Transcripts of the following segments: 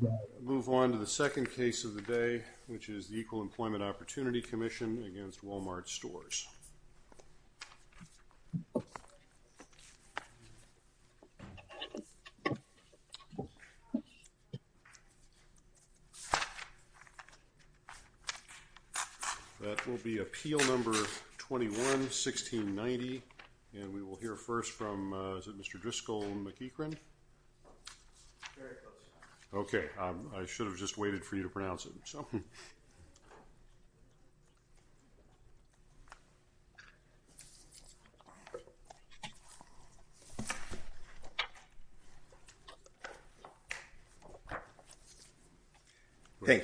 We will move on to the second case of the day, which is the Equal Employment Opportunity Commission v. Wal-Mart Stores. That will be Appeal No. 21-1690, and we will hear first from Mr. Driscoll and McEachran. Thank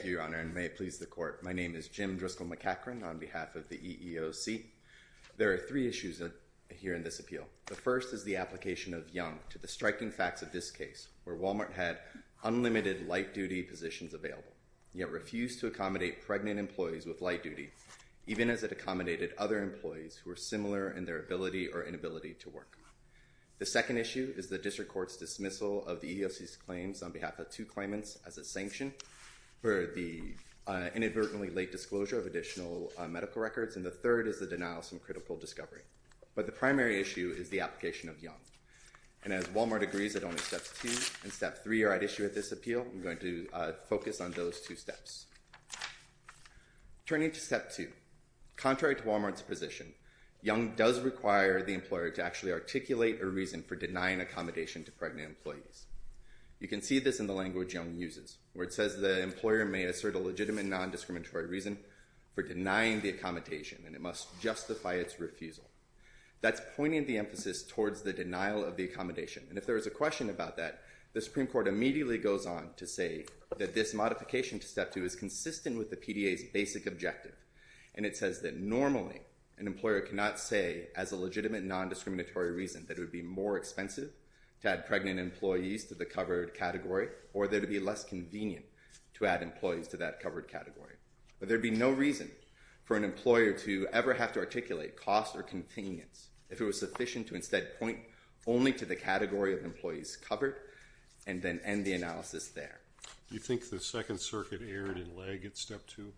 you, Your Honor, and may it please the Court. My name is Jim Driscoll McEachran on behalf of the EEOC. There are three issues here in this appeal. The first is the application of Young to the striking facts of this case, where Wal-Mart had unlimited light-duty positions available, yet refused to accommodate pregnant employees with light duty, even as it accommodated other employees who were similar in their ability or inability to work. The second issue is the District Court's dismissal of the EEOC's claims on behalf of two claimants as a sanction for the inadvertently late disclosure of additional medical records, and the third is the denial of some critical discovery. But the primary issue is the application of Young, and as Wal-Mart agrees that only Steps 2 and Step 3 are at issue with this appeal, I'm going to focus on those two steps. Turning to Step 2, contrary to Wal-Mart's position, Young does require the employer to actually articulate a reason for denying accommodation to pregnant employees. You can see this in the language Young uses, where it says the employer may assert a legitimate non-discriminatory reason for denying the accommodation, and it must justify its refusal. That's pointing the emphasis towards the denial of the accommodation, and if there is a question about that, the Supreme Court immediately goes on to say that this modification to Step 2 is consistent with the PDA's basic objective, and it says that normally an employer cannot say as a legitimate non-discriminatory reason that it would be more expensive to add pregnant employees to the covered category, or that it would be less convenient to add employees to that covered category. But there would be no reason for an employer to ever have to articulate cost or convenience if it was sufficient to instead point only to the category of employees covered, and then end the analysis there. Do you think the Second Circuit erred in lag at Step 2?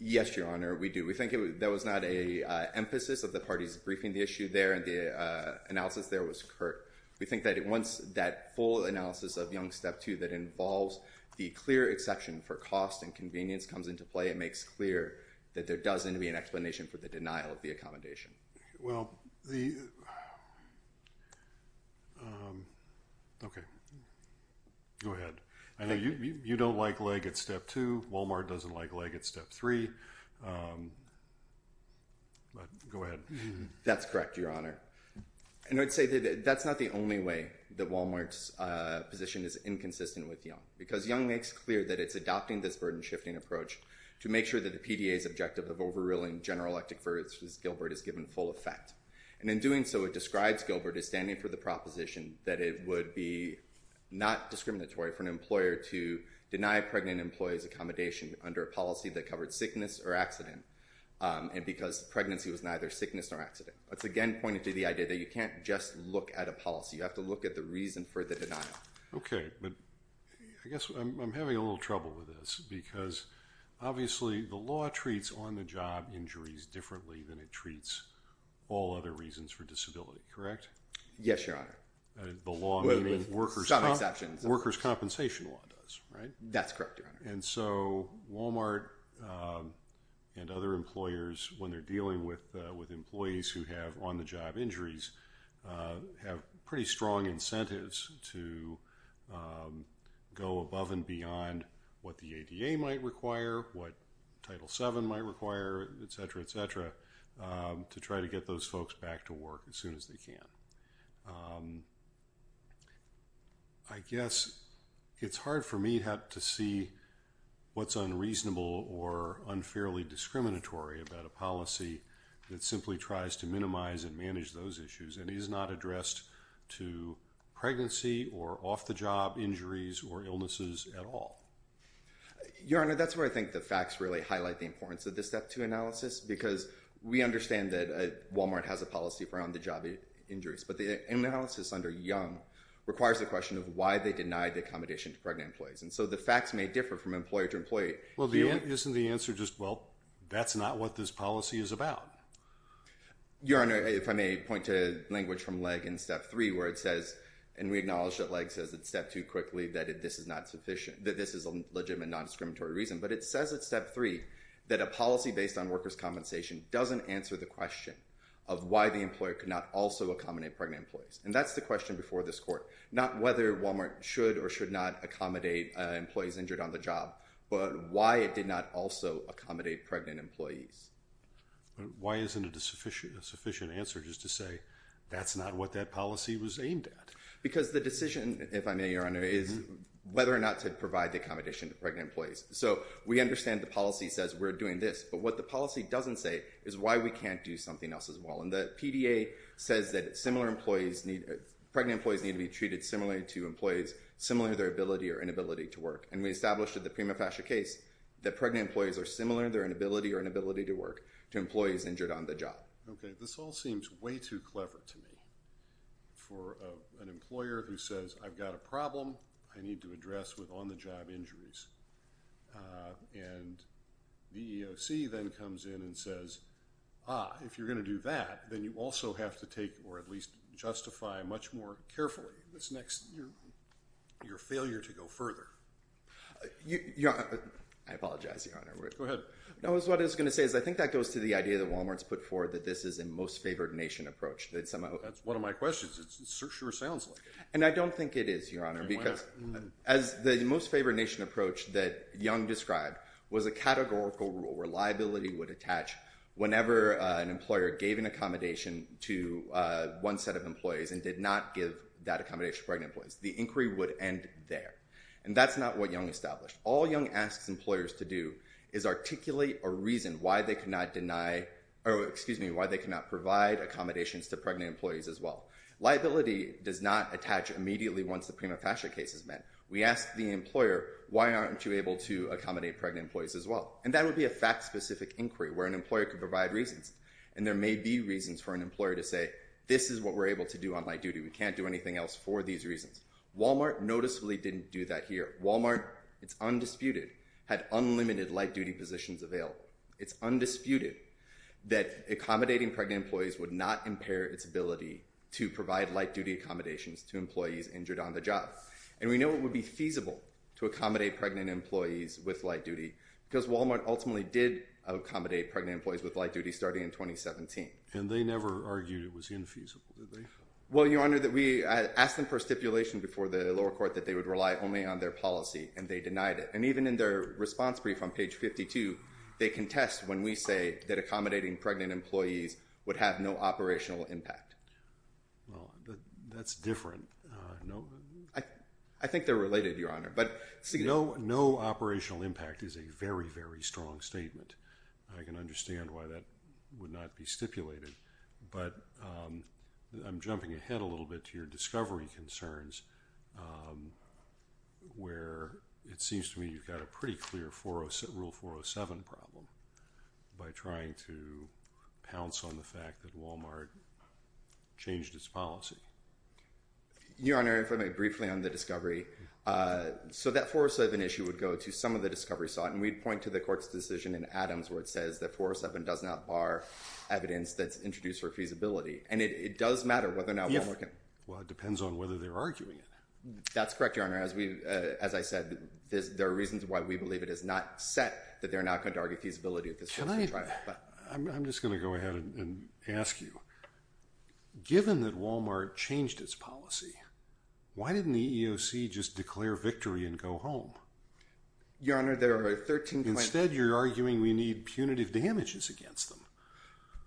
Yes, Your Honor, we do. We think there was not an emphasis of the parties briefing the issue there, and the analysis there was curt. We think that it wants that full analysis of Young's Step 2 that involves the clear exception for cost and convenience comes into play. It makes clear that there does need to be an explanation for the denial of the accommodation. Well, the, okay, go ahead. I know you don't like lag at Step 2, Walmart doesn't like lag at Step 3, but go ahead. That's correct, Your Honor. And I'd say that that's not the only way that Walmart's position is inconsistent with Young, because Young makes clear that it's adopting this burden-shifting approach to make sure that the PDA's objective of overruling General Electric versus Gilbert is given full effect. And in doing so, it describes Gilbert as standing for the proposition that it would be not discriminatory for an employer to deny a pregnant employee's accommodation under a policy that covered sickness or accident, and because pregnancy was neither sickness nor accident. That's, again, pointing to the idea that you can't just look at a policy, you have to look at the reason for the denial. Okay, but I guess I'm having a little trouble with this, because obviously the law treats on-the-job injuries differently than it treats all other reasons for disability, correct? Yes, Your Honor. The law, meaning workers' compensation law does, right? That's correct, Your Honor. And so Walmart and other employers, when they're dealing with employees who have on-the-job injuries, have pretty strong incentives to go above and beyond what the ADA might require, what Title VII might require, et cetera, et cetera, to try to get those folks back to work as soon as they can. I guess it's hard for me to see what's unreasonable or unfairly discriminatory about a policy that simply tries to minimize and manage those issues, and is not addressed to pregnancy or off-the-job injuries or illnesses at all. Your Honor, that's where I think the facts really highlight the importance of the Step 2 analysis, because we understand that Walmart has a policy around the job injuries, but the analysis under Young requires the question of why they denied the accommodation to pregnant employees. And so the facts may differ from employer to employee. Well, isn't the answer just, well, that's not what this policy is about? Your Honor, if I may point to language from Legge in Step 3, where it says, and we acknowledge that Legge says in Step 2 quickly, that this is a legitimate, non-discriminatory reason. But it says in Step 3 that a policy based on workers' compensation doesn't answer the question of why the employer could not also accommodate pregnant employees. And that's the question before this Court, not whether Walmart should or should not accommodate employees injured on the job, but why it did not also accommodate pregnant employees. Why isn't it a sufficient answer just to say, that's not what that policy was aimed at? Because the decision, if I may, Your Honor, is whether or not to provide the accommodation to pregnant employees. So we understand the policy says we're doing this, but what the policy doesn't say is why we can't do something else as well. And the PDA says that pregnant employees need to be treated similarly to employees similar to their ability or inability to work. And we established in the Prima Fascia case that pregnant employees are similar in their inability or inability to work to employees injured on the job. Okay. This all seems way too clever to me. For an employer who says, I've got a problem I need to address with on-the-job injuries. And the EEOC then comes in and says, ah, if you're going to do that, then you also have to take or at least justify much more carefully this next, your failure to go further. I apologize, Your Honor. Go ahead. No. What I was going to say is I think that goes to the idea that Walmart's put forward that this is a most favored nation approach. That's one of my questions. It sure sounds like it. And I don't think it is, Your Honor, because as the most favored nation approach that Young described was a categorical rule where liability would attach whenever an employer gave an employee to one set of employees and did not give that accommodation to pregnant employees. The inquiry would end there. And that's not what Young established. All Young asks employers to do is articulate a reason why they cannot deny or excuse me, why they cannot provide accommodations to pregnant employees as well. Liability does not attach immediately once the Prima Fascia case is met. We ask the employer, why aren't you able to accommodate pregnant employees as well? And that would be a fact-specific inquiry where an employer could provide reasons. And there may be reasons for an employer to say, this is what we're able to do on light duty. We can't do anything else for these reasons. Walmart noticeably didn't do that here. Walmart, it's undisputed, had unlimited light duty positions available. It's undisputed that accommodating pregnant employees would not impair its ability to provide light duty accommodations to employees injured on the job. And we know it would be feasible to accommodate pregnant employees with light duty because Walmart ultimately did accommodate pregnant employees with light duty starting in 2017. And they never argued it was infeasible, did they? Well, Your Honor, we asked them for a stipulation before the lower court that they would rely only on their policy, and they denied it. And even in their response brief on page 52, they contest when we say that accommodating pregnant employees would have no operational impact. That's different. I think they're related, Your Honor. No operational impact is a very, very strong statement. I can understand why that would not be stipulated. But I'm jumping ahead a little bit to your discovery concerns, where it seems to me you've got a pretty clear rule 407 problem by trying to pounce on the fact that Walmart changed its policy. Your Honor, if I may, briefly on the discovery. So that 407 issue would go to some of the discovery sought, and we'd point to the court's decision in Adams where it says that 407 does not bar evidence that's introduced for feasibility. And it does matter whether or not Walmart can. Well, it depends on whether they're arguing it. That's correct, Your Honor. As I said, there are reasons why we believe it is not set that they're not going to argue feasibility of this policy trial. I'm just going to go ahead and ask you, given that Walmart changed its policy, why didn't the EEOC just declare victory and go home? Your Honor, there are 13 claims. Instead, you're arguing we need punitive damages against them.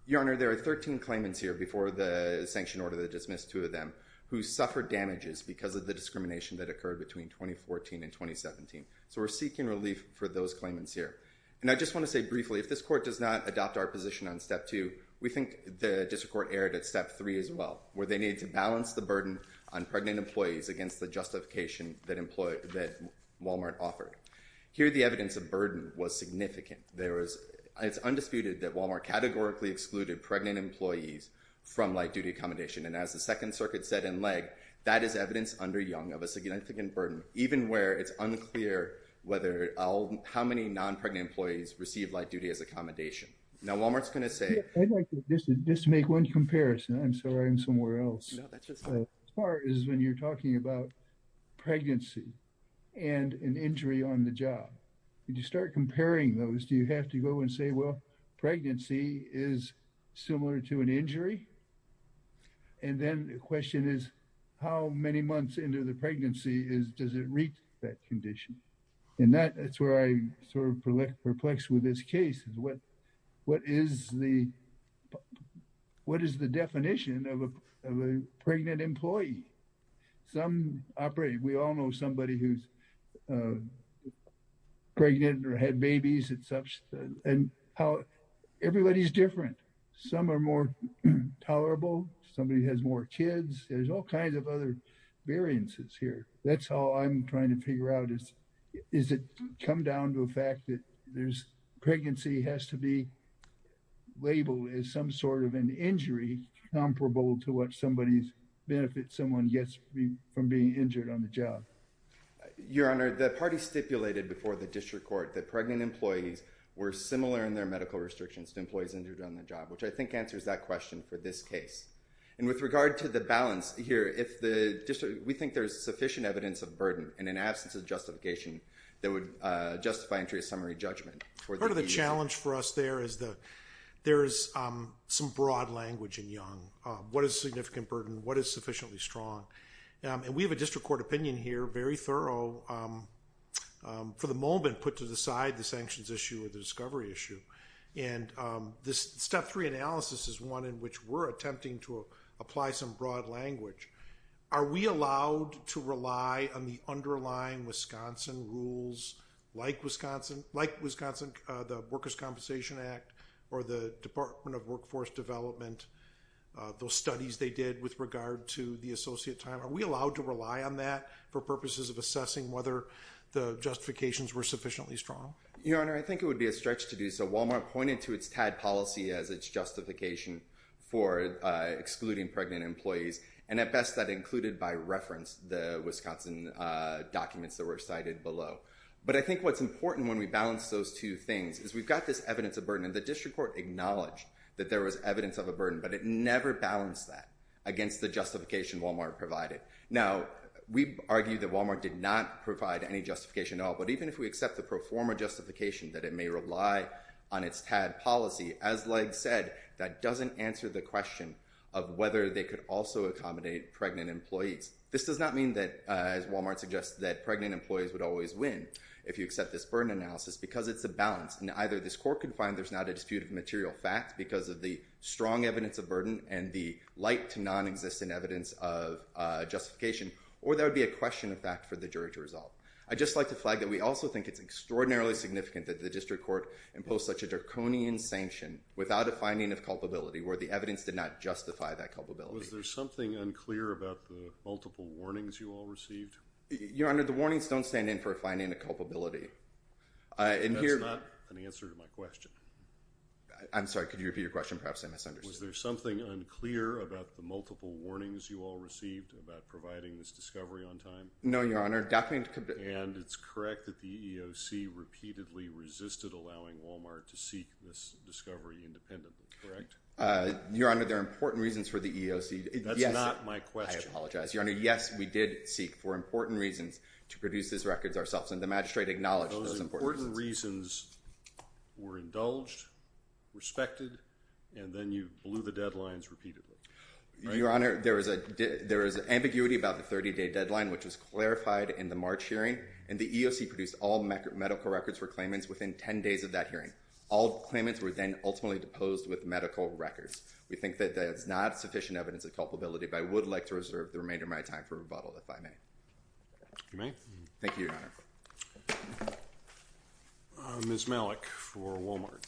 Your Honor, there are 13 claimants here before the sanction order that dismissed two of them who suffered damages because of the discrimination that occurred between 2014 and 2017. So we're seeking relief for those claimants here. And I just want to say briefly, if this court does not adopt our position on step two, we think the district court erred at step three as well, where they needed to balance the burden on pregnant employees against the justification that Walmart offered. Here the evidence of burden was significant. It's undisputed that Walmart categorically excluded pregnant employees from light-duty accommodation. And as the Second Circuit said in Legge, that is evidence under Young of a significant burden, even where it's unclear how many non-pregnant employees received light-duty as accommodation. Now Walmart's going to say- I'd like to just make one comparison. I'm sorry, I'm somewhere else. No, that's just fine. As far as when you're talking about pregnancy and an injury on the job, did you start comparing those? Do you have to go and say, well, pregnancy is similar to an injury? And then the question is, how many months into the pregnancy does it reach that condition? And that's where I sort of perplexed with this case. What is the definition of a pregnant employee? Some operate, we all know somebody who's pregnant or had babies and how everybody's different. Some are more tolerable. Somebody has more kids. There's all kinds of other variances here. That's how I'm trying to figure out is, is it come down to a fact that there's pregnancy has to be labeled as some sort of an injury comparable to what somebody's benefit someone gets from being injured on the job? Your Honor, the party stipulated before the district court that pregnant employees were I think answers that question for this case. And with regard to the balance here, if the district, we think there's sufficient evidence of burden and an absence of justification that would justify entry of summary judgment. Part of the challenge for us there is that there's some broad language in Young. What is significant burden? What is sufficiently strong? And we have a district court opinion here, very thorough, for the moment put to the side the sanctions issue or the discovery issue. And this step three analysis is one in which we're attempting to apply some broad language. Are we allowed to rely on the underlying Wisconsin rules like Wisconsin, like Wisconsin, the workers' compensation act or the department of workforce development, those studies they did with regard to the associate time? Are we allowed to rely on that for purposes of assessing whether the justifications were sufficiently strong? Your Honor, I think it would be a stretch to do so. Walmart pointed to its TAD policy as its justification for excluding pregnant employees. And at best that included by reference the Wisconsin documents that were cited below. But I think what's important when we balance those two things is we've got this evidence of burden and the district court acknowledged that there was evidence of a burden, but it never balanced that against the justification Walmart provided. Now we argue that Walmart did not provide any justification at all, but even if we accept the pro forma justification that it may rely on its TAD policy, as like said, that doesn't answer the question of whether they could also accommodate pregnant employees. This does not mean that as Walmart suggests that pregnant employees would always win if you accept this burden analysis because it's a balance and either this court can find there's not a disputed material fact because of the strong evidence of burden and the light to non-existent evidence of justification, or there would be a question of fact for the jury to resolve. I'd just like to flag that we also think it's extraordinarily significant that the district court imposed such a draconian sanction without a finding of culpability where the evidence did not justify that culpability. Was there something unclear about the multiple warnings you all received? Your Honor, the warnings don't stand in for a finding of culpability. That's not an answer to my question. I'm sorry. Could you repeat your question? Perhaps I misunderstood. Was there something unclear about the multiple warnings you all received about providing this discovery on time? No, Your Honor. And it's correct that the EEOC repeatedly resisted allowing Walmart to seek this discovery independently, correct? Your Honor, there are important reasons for the EEOC. That's not my question. I apologize. Your Honor, yes, we did seek for important reasons to produce these records ourselves, and the magistrate acknowledged those important reasons. Those important reasons were indulged, respected, and then you blew the deadlines repeatedly, right? Your Honor, there is ambiguity about the 30-day deadline, which was clarified in the March hearing, and the EEOC produced all medical records for claimants within 10 days of that hearing. All claimants were then ultimately deposed with medical records. We think that that's not sufficient evidence of culpability, but I would like to reserve the remainder of my time for rebuttal, if I may. If you may. Thank you, Your Honor. Ms. Malik for Walmart.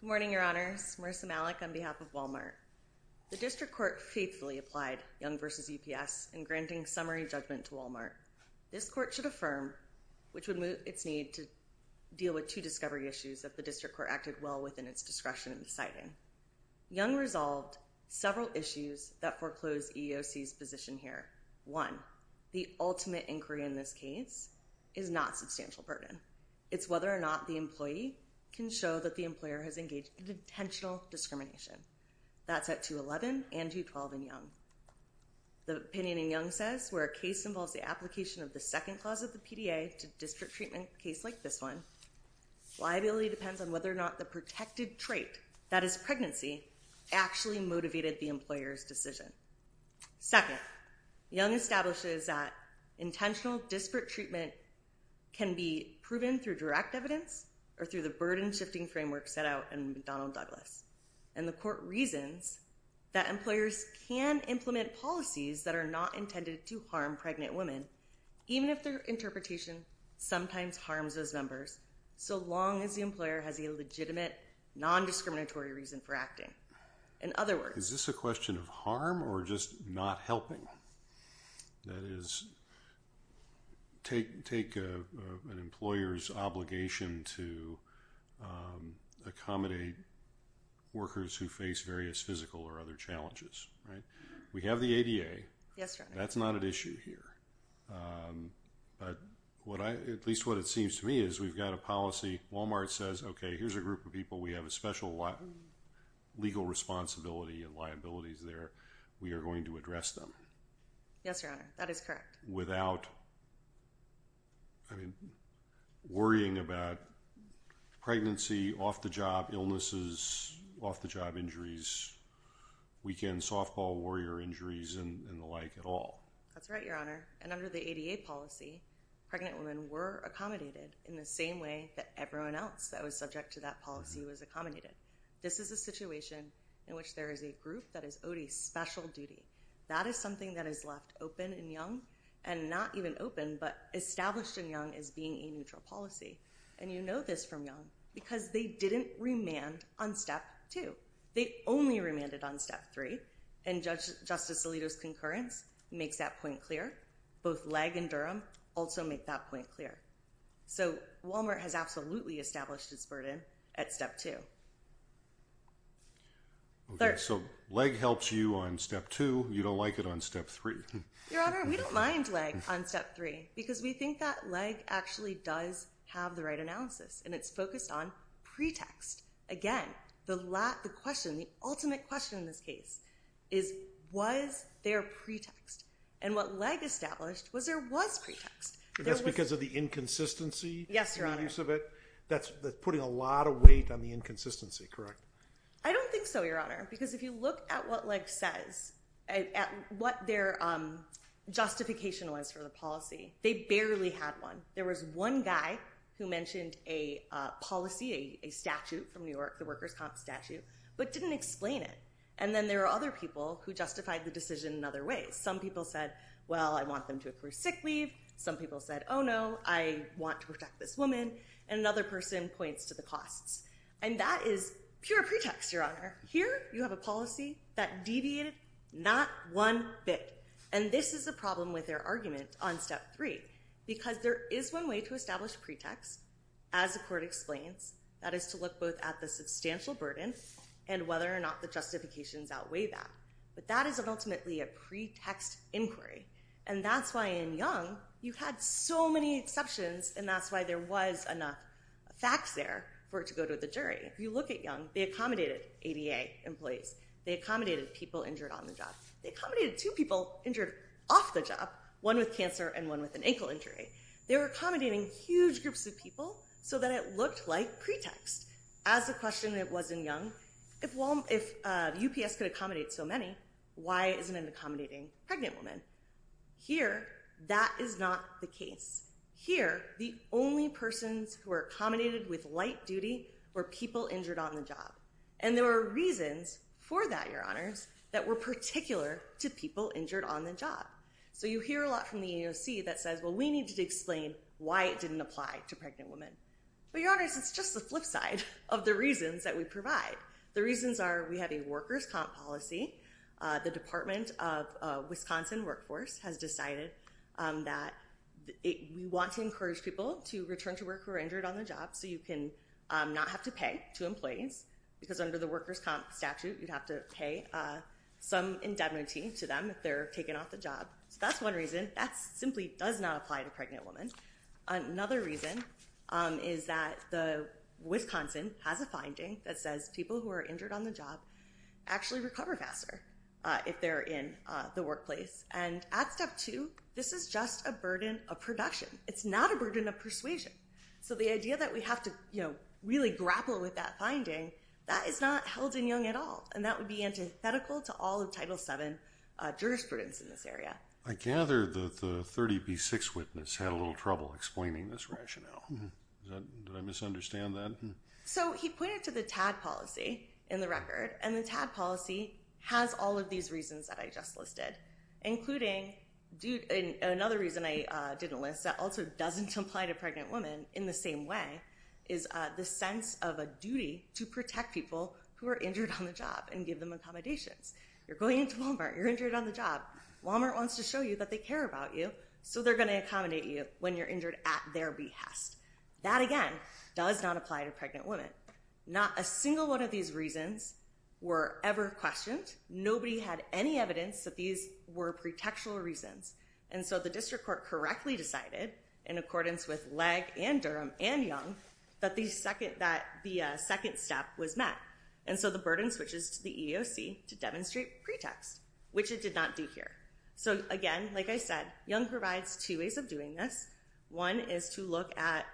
Good morning, Your Honors. Marissa Malik on behalf of Walmart. The district court faithfully applied Young v. UPS in granting summary judgment to Walmart. This court should affirm, which would meet its need to deal with two discovery issues that the district court acted well within its discretion in deciding. Young resolved several issues that foreclosed EEOC's position here. One, the ultimate inquiry in this case is not substantial burden. It's whether or not the employee can show that the employer has engaged in intentional discrimination. That's at 211 and 212 in Young. The opinion in Young says, where a case involves the application of the second clause of the PDA to district treatment case like this one, liability depends on whether or not the protected trait, that is pregnancy, actually motivated the employer's decision. Second, Young establishes that intentional disparate treatment can be proven through direct evidence or through the burden-shifting framework set out in McDonnell Douglas. And the court reasons that employers can implement policies that are not intended to harm pregnant women, even if their interpretation sometimes harms those members, so long as the employer has a legitimate, non-discriminatory reason for acting. In other words... Is this a question of harm or just not helping? That is, take an employer's obligation to accommodate workers who face various physical or other challenges, right? We have the ADA. Yes, Your Honor. That's not at issue here. But at least what it seems to me is we've got a policy. Walmart says, okay, here's a group of people. We have a special legal responsibility and liabilities there. We are going to address them. Yes, Your Honor. That is correct. Without worrying about pregnancy, off-the-job illnesses, off-the-job injuries, weekend softball warrior injuries and the like at all. That's right, Your Honor. And under the ADA policy, pregnant women were accommodated in the same way that everyone else that was subject to that policy was accommodated. This is a situation in which there is a group that is owed a special duty. That is something that is left open and young, and not even open, but established and young as being a neutral policy. And you know this from young, because they didn't remand on step two. They only remanded on step three. And Justice Alito's concurrence makes that point clear. Both Legg and Durham also make that point clear. So Walmart has absolutely established its burden at step two. Okay, so Legg helps you on step two. You don't like it on step three. Your Honor, we don't mind Legg on step three, because we think that Legg actually does have the right analysis, and it's focused on pretext. Again, the ultimate question in this case is, was there pretext? And what Legg established was there was pretext. That's because of the inconsistency in the use of it? Yes, Your Honor. That's putting a lot of weight on the inconsistency, correct? I don't think so, Your Honor, because if you look at what Legg says, at what their justification was for the policy, they barely had one. There was one guy who mentioned a policy, a statute from New York, the workers' comp statute, but didn't explain it. And then there were other people who justified the decision in other ways. Some people said, well, I want them to approve sick leave. Some people said, oh, no, I want to protect this woman. And another person points to the costs. And that is pure pretext, Your Honor. Here you have a policy that deviated not one bit. And this is a problem with their argument on step three. Because there is one way to establish pretext, as the court explains. That is to look both at the substantial burden and whether or not the justifications outweigh that. But that is ultimately a pretext inquiry. And that's why in Young, you had so many exceptions. And that's why there was enough facts there for it to go to the jury. If you look at Young, they accommodated ADA employees. They accommodated people injured on the job. They accommodated two people injured off the job, one with cancer and one with an ankle injury. They were accommodating huge groups of people so that it looked like pretext. As a question that was in Young, if UPS could accommodate so many, why isn't it accommodating pregnant women? Here, that is not the case. Here, the only persons who were accommodated with light duty were people injured on the job. And there were reasons for that, Your Honors, that were particular to people injured on the job. So you hear a lot from the EEOC that says, well, we need to explain why it didn't apply to pregnant women. But Your Honors, it's just the flip side of the reasons that we provide. The reasons are we have a workers' comp policy. The Department of Wisconsin Workforce has decided that we want to encourage people to pay some indemnity to them if they're taken off the job. So that's one reason. That simply does not apply to pregnant women. Another reason is that Wisconsin has a finding that says people who are injured on the job actually recover faster if they're in the workplace. And at step two, this is just a burden of production. It's not a burden of persuasion. So the idea that we have to really grapple with that finding, that is not held in young at all. And that would be antithetical to all of Title VII jurisprudence in this area. I gather that the 30B6 witness had a little trouble explaining this rationale. Did I misunderstand that? So he pointed to the TAD policy in the record. And the TAD policy has all of these reasons that I just listed, including another reason I didn't list that also doesn't apply to pregnant women in the same way, is the sense of a duty to protect people who are injured on the job and give them accommodations. You're going into Walmart. You're injured on the job. Walmart wants to show you that they care about you, so they're going to accommodate you when you're injured at their behest. That, again, does not apply to pregnant women. Not a single one of these reasons were ever questioned. Nobody had any evidence that these were pretextual reasons. And so the district court correctly decided, in accordance with Legg and Durham and Young, that the second step was met. And so the burden switches to the EEOC to demonstrate pretext, which it did not do here. So, again, like I said, Young provides two ways of doing this. One is to look at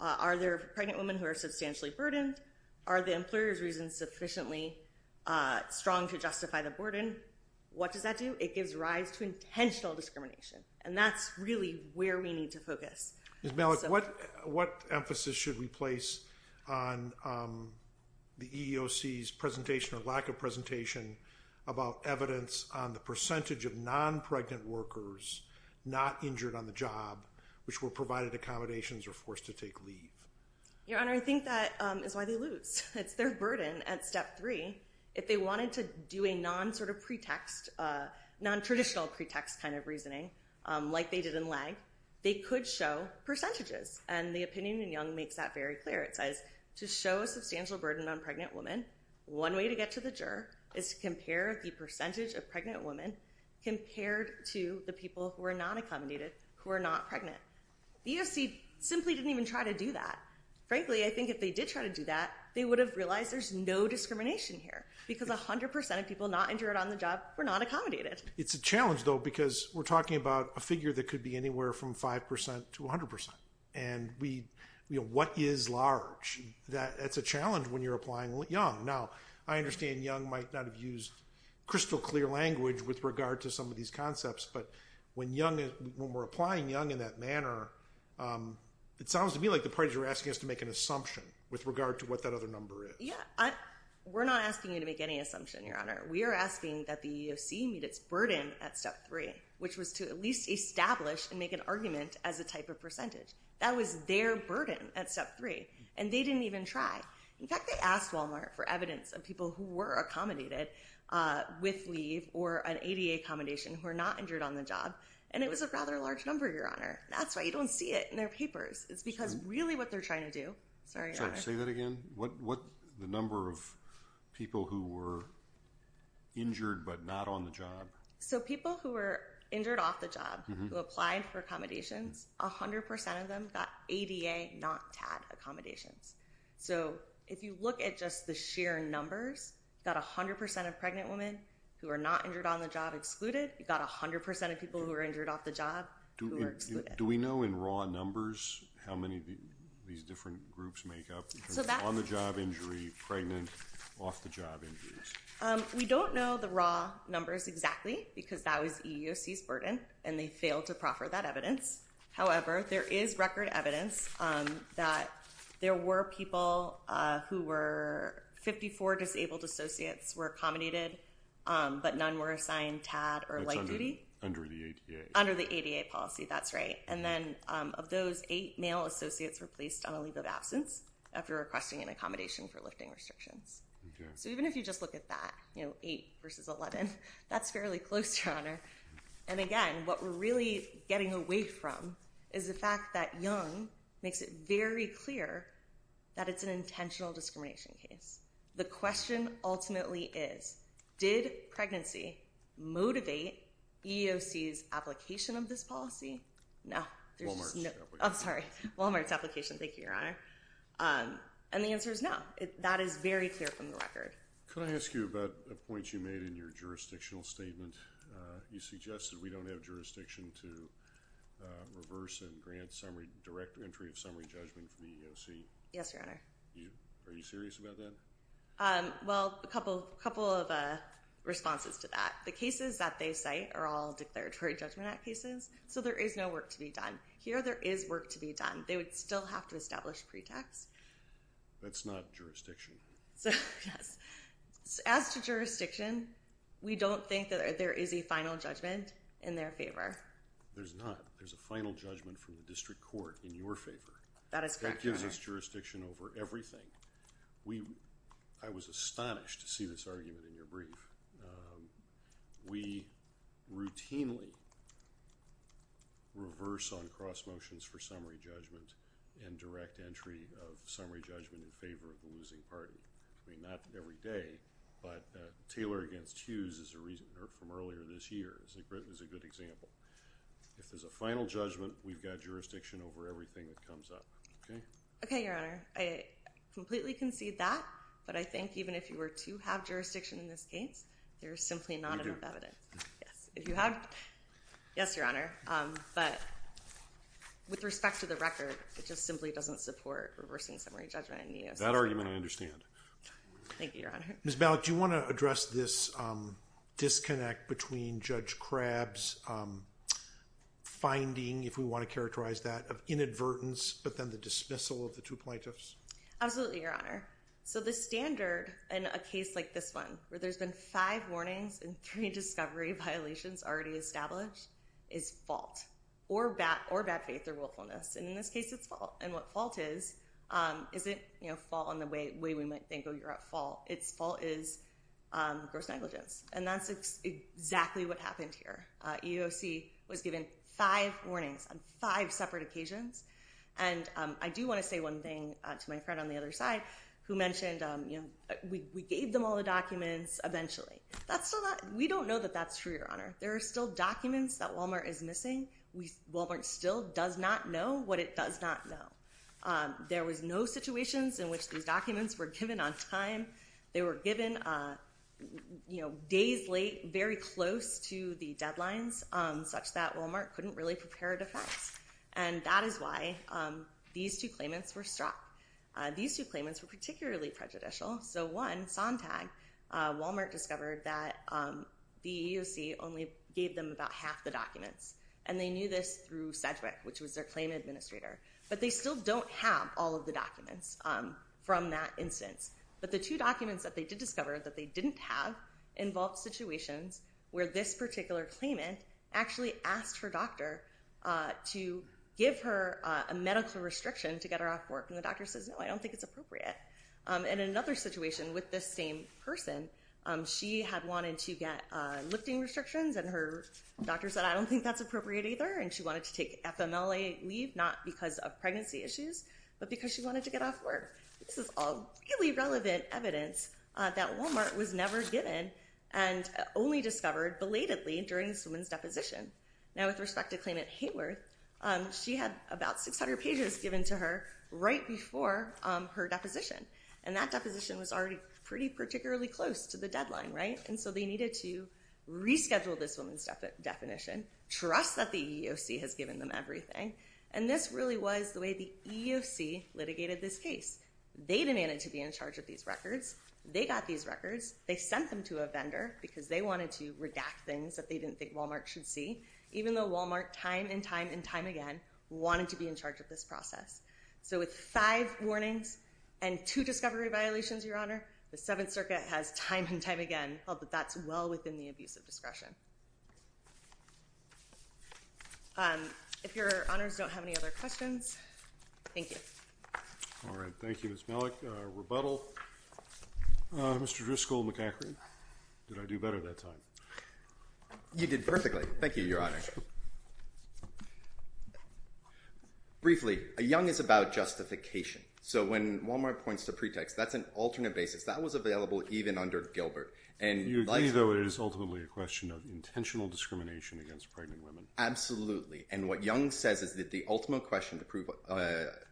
are there pregnant women who are substantially burdened? Are the employer's reasons sufficiently strong to justify the burden? What does that do? It gives rise to intentional discrimination. And that's really where we need to focus. Ms. Malik, what emphasis should we place on the EEOC's presentation or lack of presentation about evidence on the percentage of non-pregnant workers not injured on the job which were provided accommodations or forced to take leave? Your Honor, I think that is why they lose. It's their burden at step three. If they wanted to do a non-traditional pretext kind of reasoning, like they did in Legg, they could show percentages. And the opinion in Young makes that very clear. It says, to show a substantial burden on pregnant women, one way to get to the juror is to compare the percentage of pregnant women compared to the people who are not accommodated, who are not pregnant. The EEOC simply didn't even try to do that. Frankly, I think if they did try to do that, they would have realized there's no discrimination here, because 100% of people not injured on the job were not accommodated. It's a challenge, though, because we're talking about a figure that could be anywhere from 5% to 100%. And what is large? That's a challenge when you're applying Young. Now, I understand Young might not have used crystal clear language with regard to some of these concepts. But when we're applying Young in that manner, it sounds to me like the parties are asking us to make an assumption with regard to what that other number is. Yeah. We're not asking you to make any assumption, Your Honor. We are asking that the EEOC meet its burden at step three, which was to at least establish and make an argument as a type of percentage. That was their burden at step three. And they didn't even try. In fact, they asked Walmart for evidence of people who were accommodated with leave or an ADA accommodation who are not injured on the job. And it was a rather large number, Your Honor. That's why you don't see it in their papers. It's because really what they're trying to do... Sorry, Your Honor. Say that again. What the number of people who were injured but not on the job. So people who were injured off the job who applied for accommodations, 100% of them got ADA, not TAD accommodations. So if you look at just the sheer numbers, you've got 100% of pregnant women who are not injured on the job excluded. You've got 100% of people who are injured off the job who are excluded. Do we know in raw numbers how many of these different groups make up? On-the-job injury, pregnant, off-the-job injuries. We don't know the raw numbers exactly because that was EEOC's burden and they failed to proffer that evidence. However, there is record evidence that there were people who were... 54 disabled associates were accommodated, but none were assigned TAD or light duty. That's under the ADA. Under the ADA policy. That's right. And then of those, eight male associates were placed on a leave of absence after requesting an accommodation for lifting restrictions. So even if you just look at that, you know, eight versus 11, that's fairly close, Your Honor. And again, what we're really getting away from is the fact that Young makes it very clear that it's an intentional discrimination case. The question ultimately is, did pregnancy motivate EEOC's application of this policy? No. Walmart's. I'm sorry. Walmart's application. Thank you, Your Honor. And the answer is no. That is very clear from the record. Could I ask you about a point you made in your jurisdictional statement? You suggested we don't have jurisdiction to reverse and grant direct entry of summary judgment to the EEOC. Yes, Your Honor. Are you serious about that? Well, a couple of responses to that. The cases that they cite are all Declaratory Judgment Act cases, so there is no work to be done. Here, there is work to be done. They would still have to establish pretext. That's not jurisdiction. Yes. As to jurisdiction, we don't think that there is a final judgment in their favor. There's not. There's a final judgment from the district court in your favor. That is correct, Your Honor. That gives us jurisdiction over everything. I was astonished to see this argument in your brief. We routinely reverse on cross motions for summary judgment and direct entry of summary judgment in favor of the losing party. I mean, not every day, but Taylor against Hughes is a reason from earlier this year. It was a good example. If there's a final judgment, we've got jurisdiction over everything that comes up. Okay? Okay, Your Honor. I completely concede that, but I think even if you were to have jurisdiction in this case, there's simply not enough evidence. Yes. If you have, yes, Your Honor, but with respect to the record, it just simply doesn't support reversing summary judgment in EEOC. That argument, I understand. Thank you, Your Honor. Ms. Malik, do you want to address this disconnect between Judge Crabb's finding, if we want to characterize that, of inadvertence, but then the dismissal of the two plaintiffs? Absolutely, Your Honor. The standard in a case like this one, where there's been five warnings and three discovery violations already established, is fault or bad faith or willfulness. In this case, it's fault. What fault is isn't fault in the way we might think, oh, you're at fault. It's fault is gross negligence, and that's exactly what happened here. EEOC was given five warnings on five separate occasions, and I do want to say one thing to my friend on the other side, who mentioned we gave them all the documents eventually. We don't know that that's true, Your Honor. There are still documents that Walmart is missing. Walmart still does not know what it does not know. There was no situations in which these documents were given on time. They were given days late, very close to the deadlines, such that Walmart couldn't really prepare a defense, and that is why these two claimants were struck. These two claimants were particularly prejudicial. So one, Sontag, Walmart discovered that the EEOC only gave them about half the documents, and they knew this through Sedgwick, which was their claim administrator. But they still don't have all of the documents from that instance. But the two documents that they did discover that they didn't have involved situations where this particular claimant actually asked her doctor to give her a medical restriction to get her off work, and the doctor says, no, I don't think it's appropriate. In another situation with this same person, she had wanted to get lifting restrictions, and her doctor said, I don't think that's appropriate either, and she wanted to take FMLA leave, not because of pregnancy issues, but because she wanted to get off work. This is all really relevant evidence that Walmart was never given and only discovered belatedly during this woman's deposition. Now, with respect to claimant Hayworth, she had about 600 pages given to her right before her deposition, and that deposition was already pretty particularly close to the deadline, right? And so they needed to reschedule this woman's definition, trust that the EEOC has given them everything, and this really was the way the EEOC litigated this case. They demanded to be in charge of these records. They got these records. They sent them to a vendor because they wanted to redact things that they didn't think Walmart should see, even though Walmart time and time and time again wanted to be in charge of this process. So with five warnings and two discovery violations, Your Honor, the Seventh Circuit has time and that's well within the abuse of discretion. If Your Honors don't have any other questions, thank you. All right. Thank you, Ms. Malik. Rebuttal? Mr. Driscoll-McEachrin? Did I do better that time? You did perfectly. Thank you, Your Honor. Briefly, a young is about justification. So when Walmart points to pretext, that's an alternate basis. That was available even under Gilbert. You agree, though, it is ultimately a question of intentional discrimination against pregnant women. Absolutely. And what young says is that the ultimate question to prove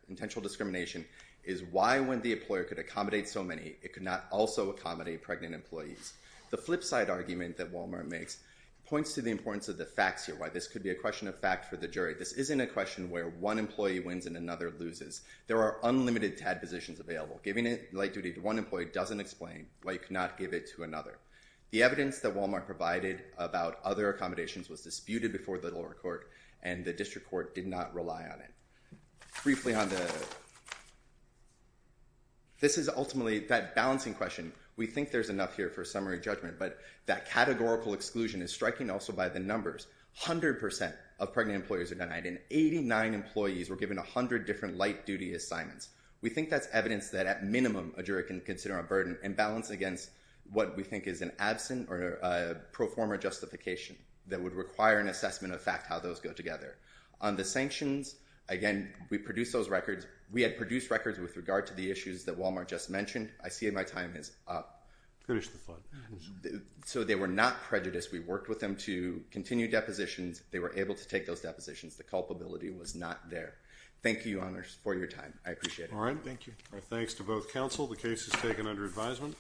intentional discrimination is why when the employer could accommodate so many, it could not also accommodate pregnant employees. The flip side argument that Walmart makes points to the importance of the facts here, why this could be a question of fact for the jury. This isn't a question where one employee wins and another loses. There are unlimited TAD positions available. Giving light duty to one employee doesn't explain why you could not give it to another. The evidence that Walmart provided about other accommodations was disputed before the lower court, and the district court did not rely on it. Briefly on the other, this is ultimately that balancing question. We think there's enough here for a summary judgment, but that categorical exclusion is striking also by the numbers. 100% of pregnant employers are denied, and 89 employees were given 100 different light duty assignments. We think that's evidence that at minimum a jury can consider a burden imbalance against what we think is an absent or a pro forma justification that would require an assessment of fact how those go together. On the sanctions, again, we produced those records. We had produced records with regard to the issues that Walmart just mentioned. I see my time is up. Finish the thought. So they were not prejudiced. We worked with them to continue depositions. They were able to take those depositions. The culpability was not there. Thank you, Your Honors, for your time. I appreciate it. Thank you. Thanks to both counsel. The case is taken under advisement.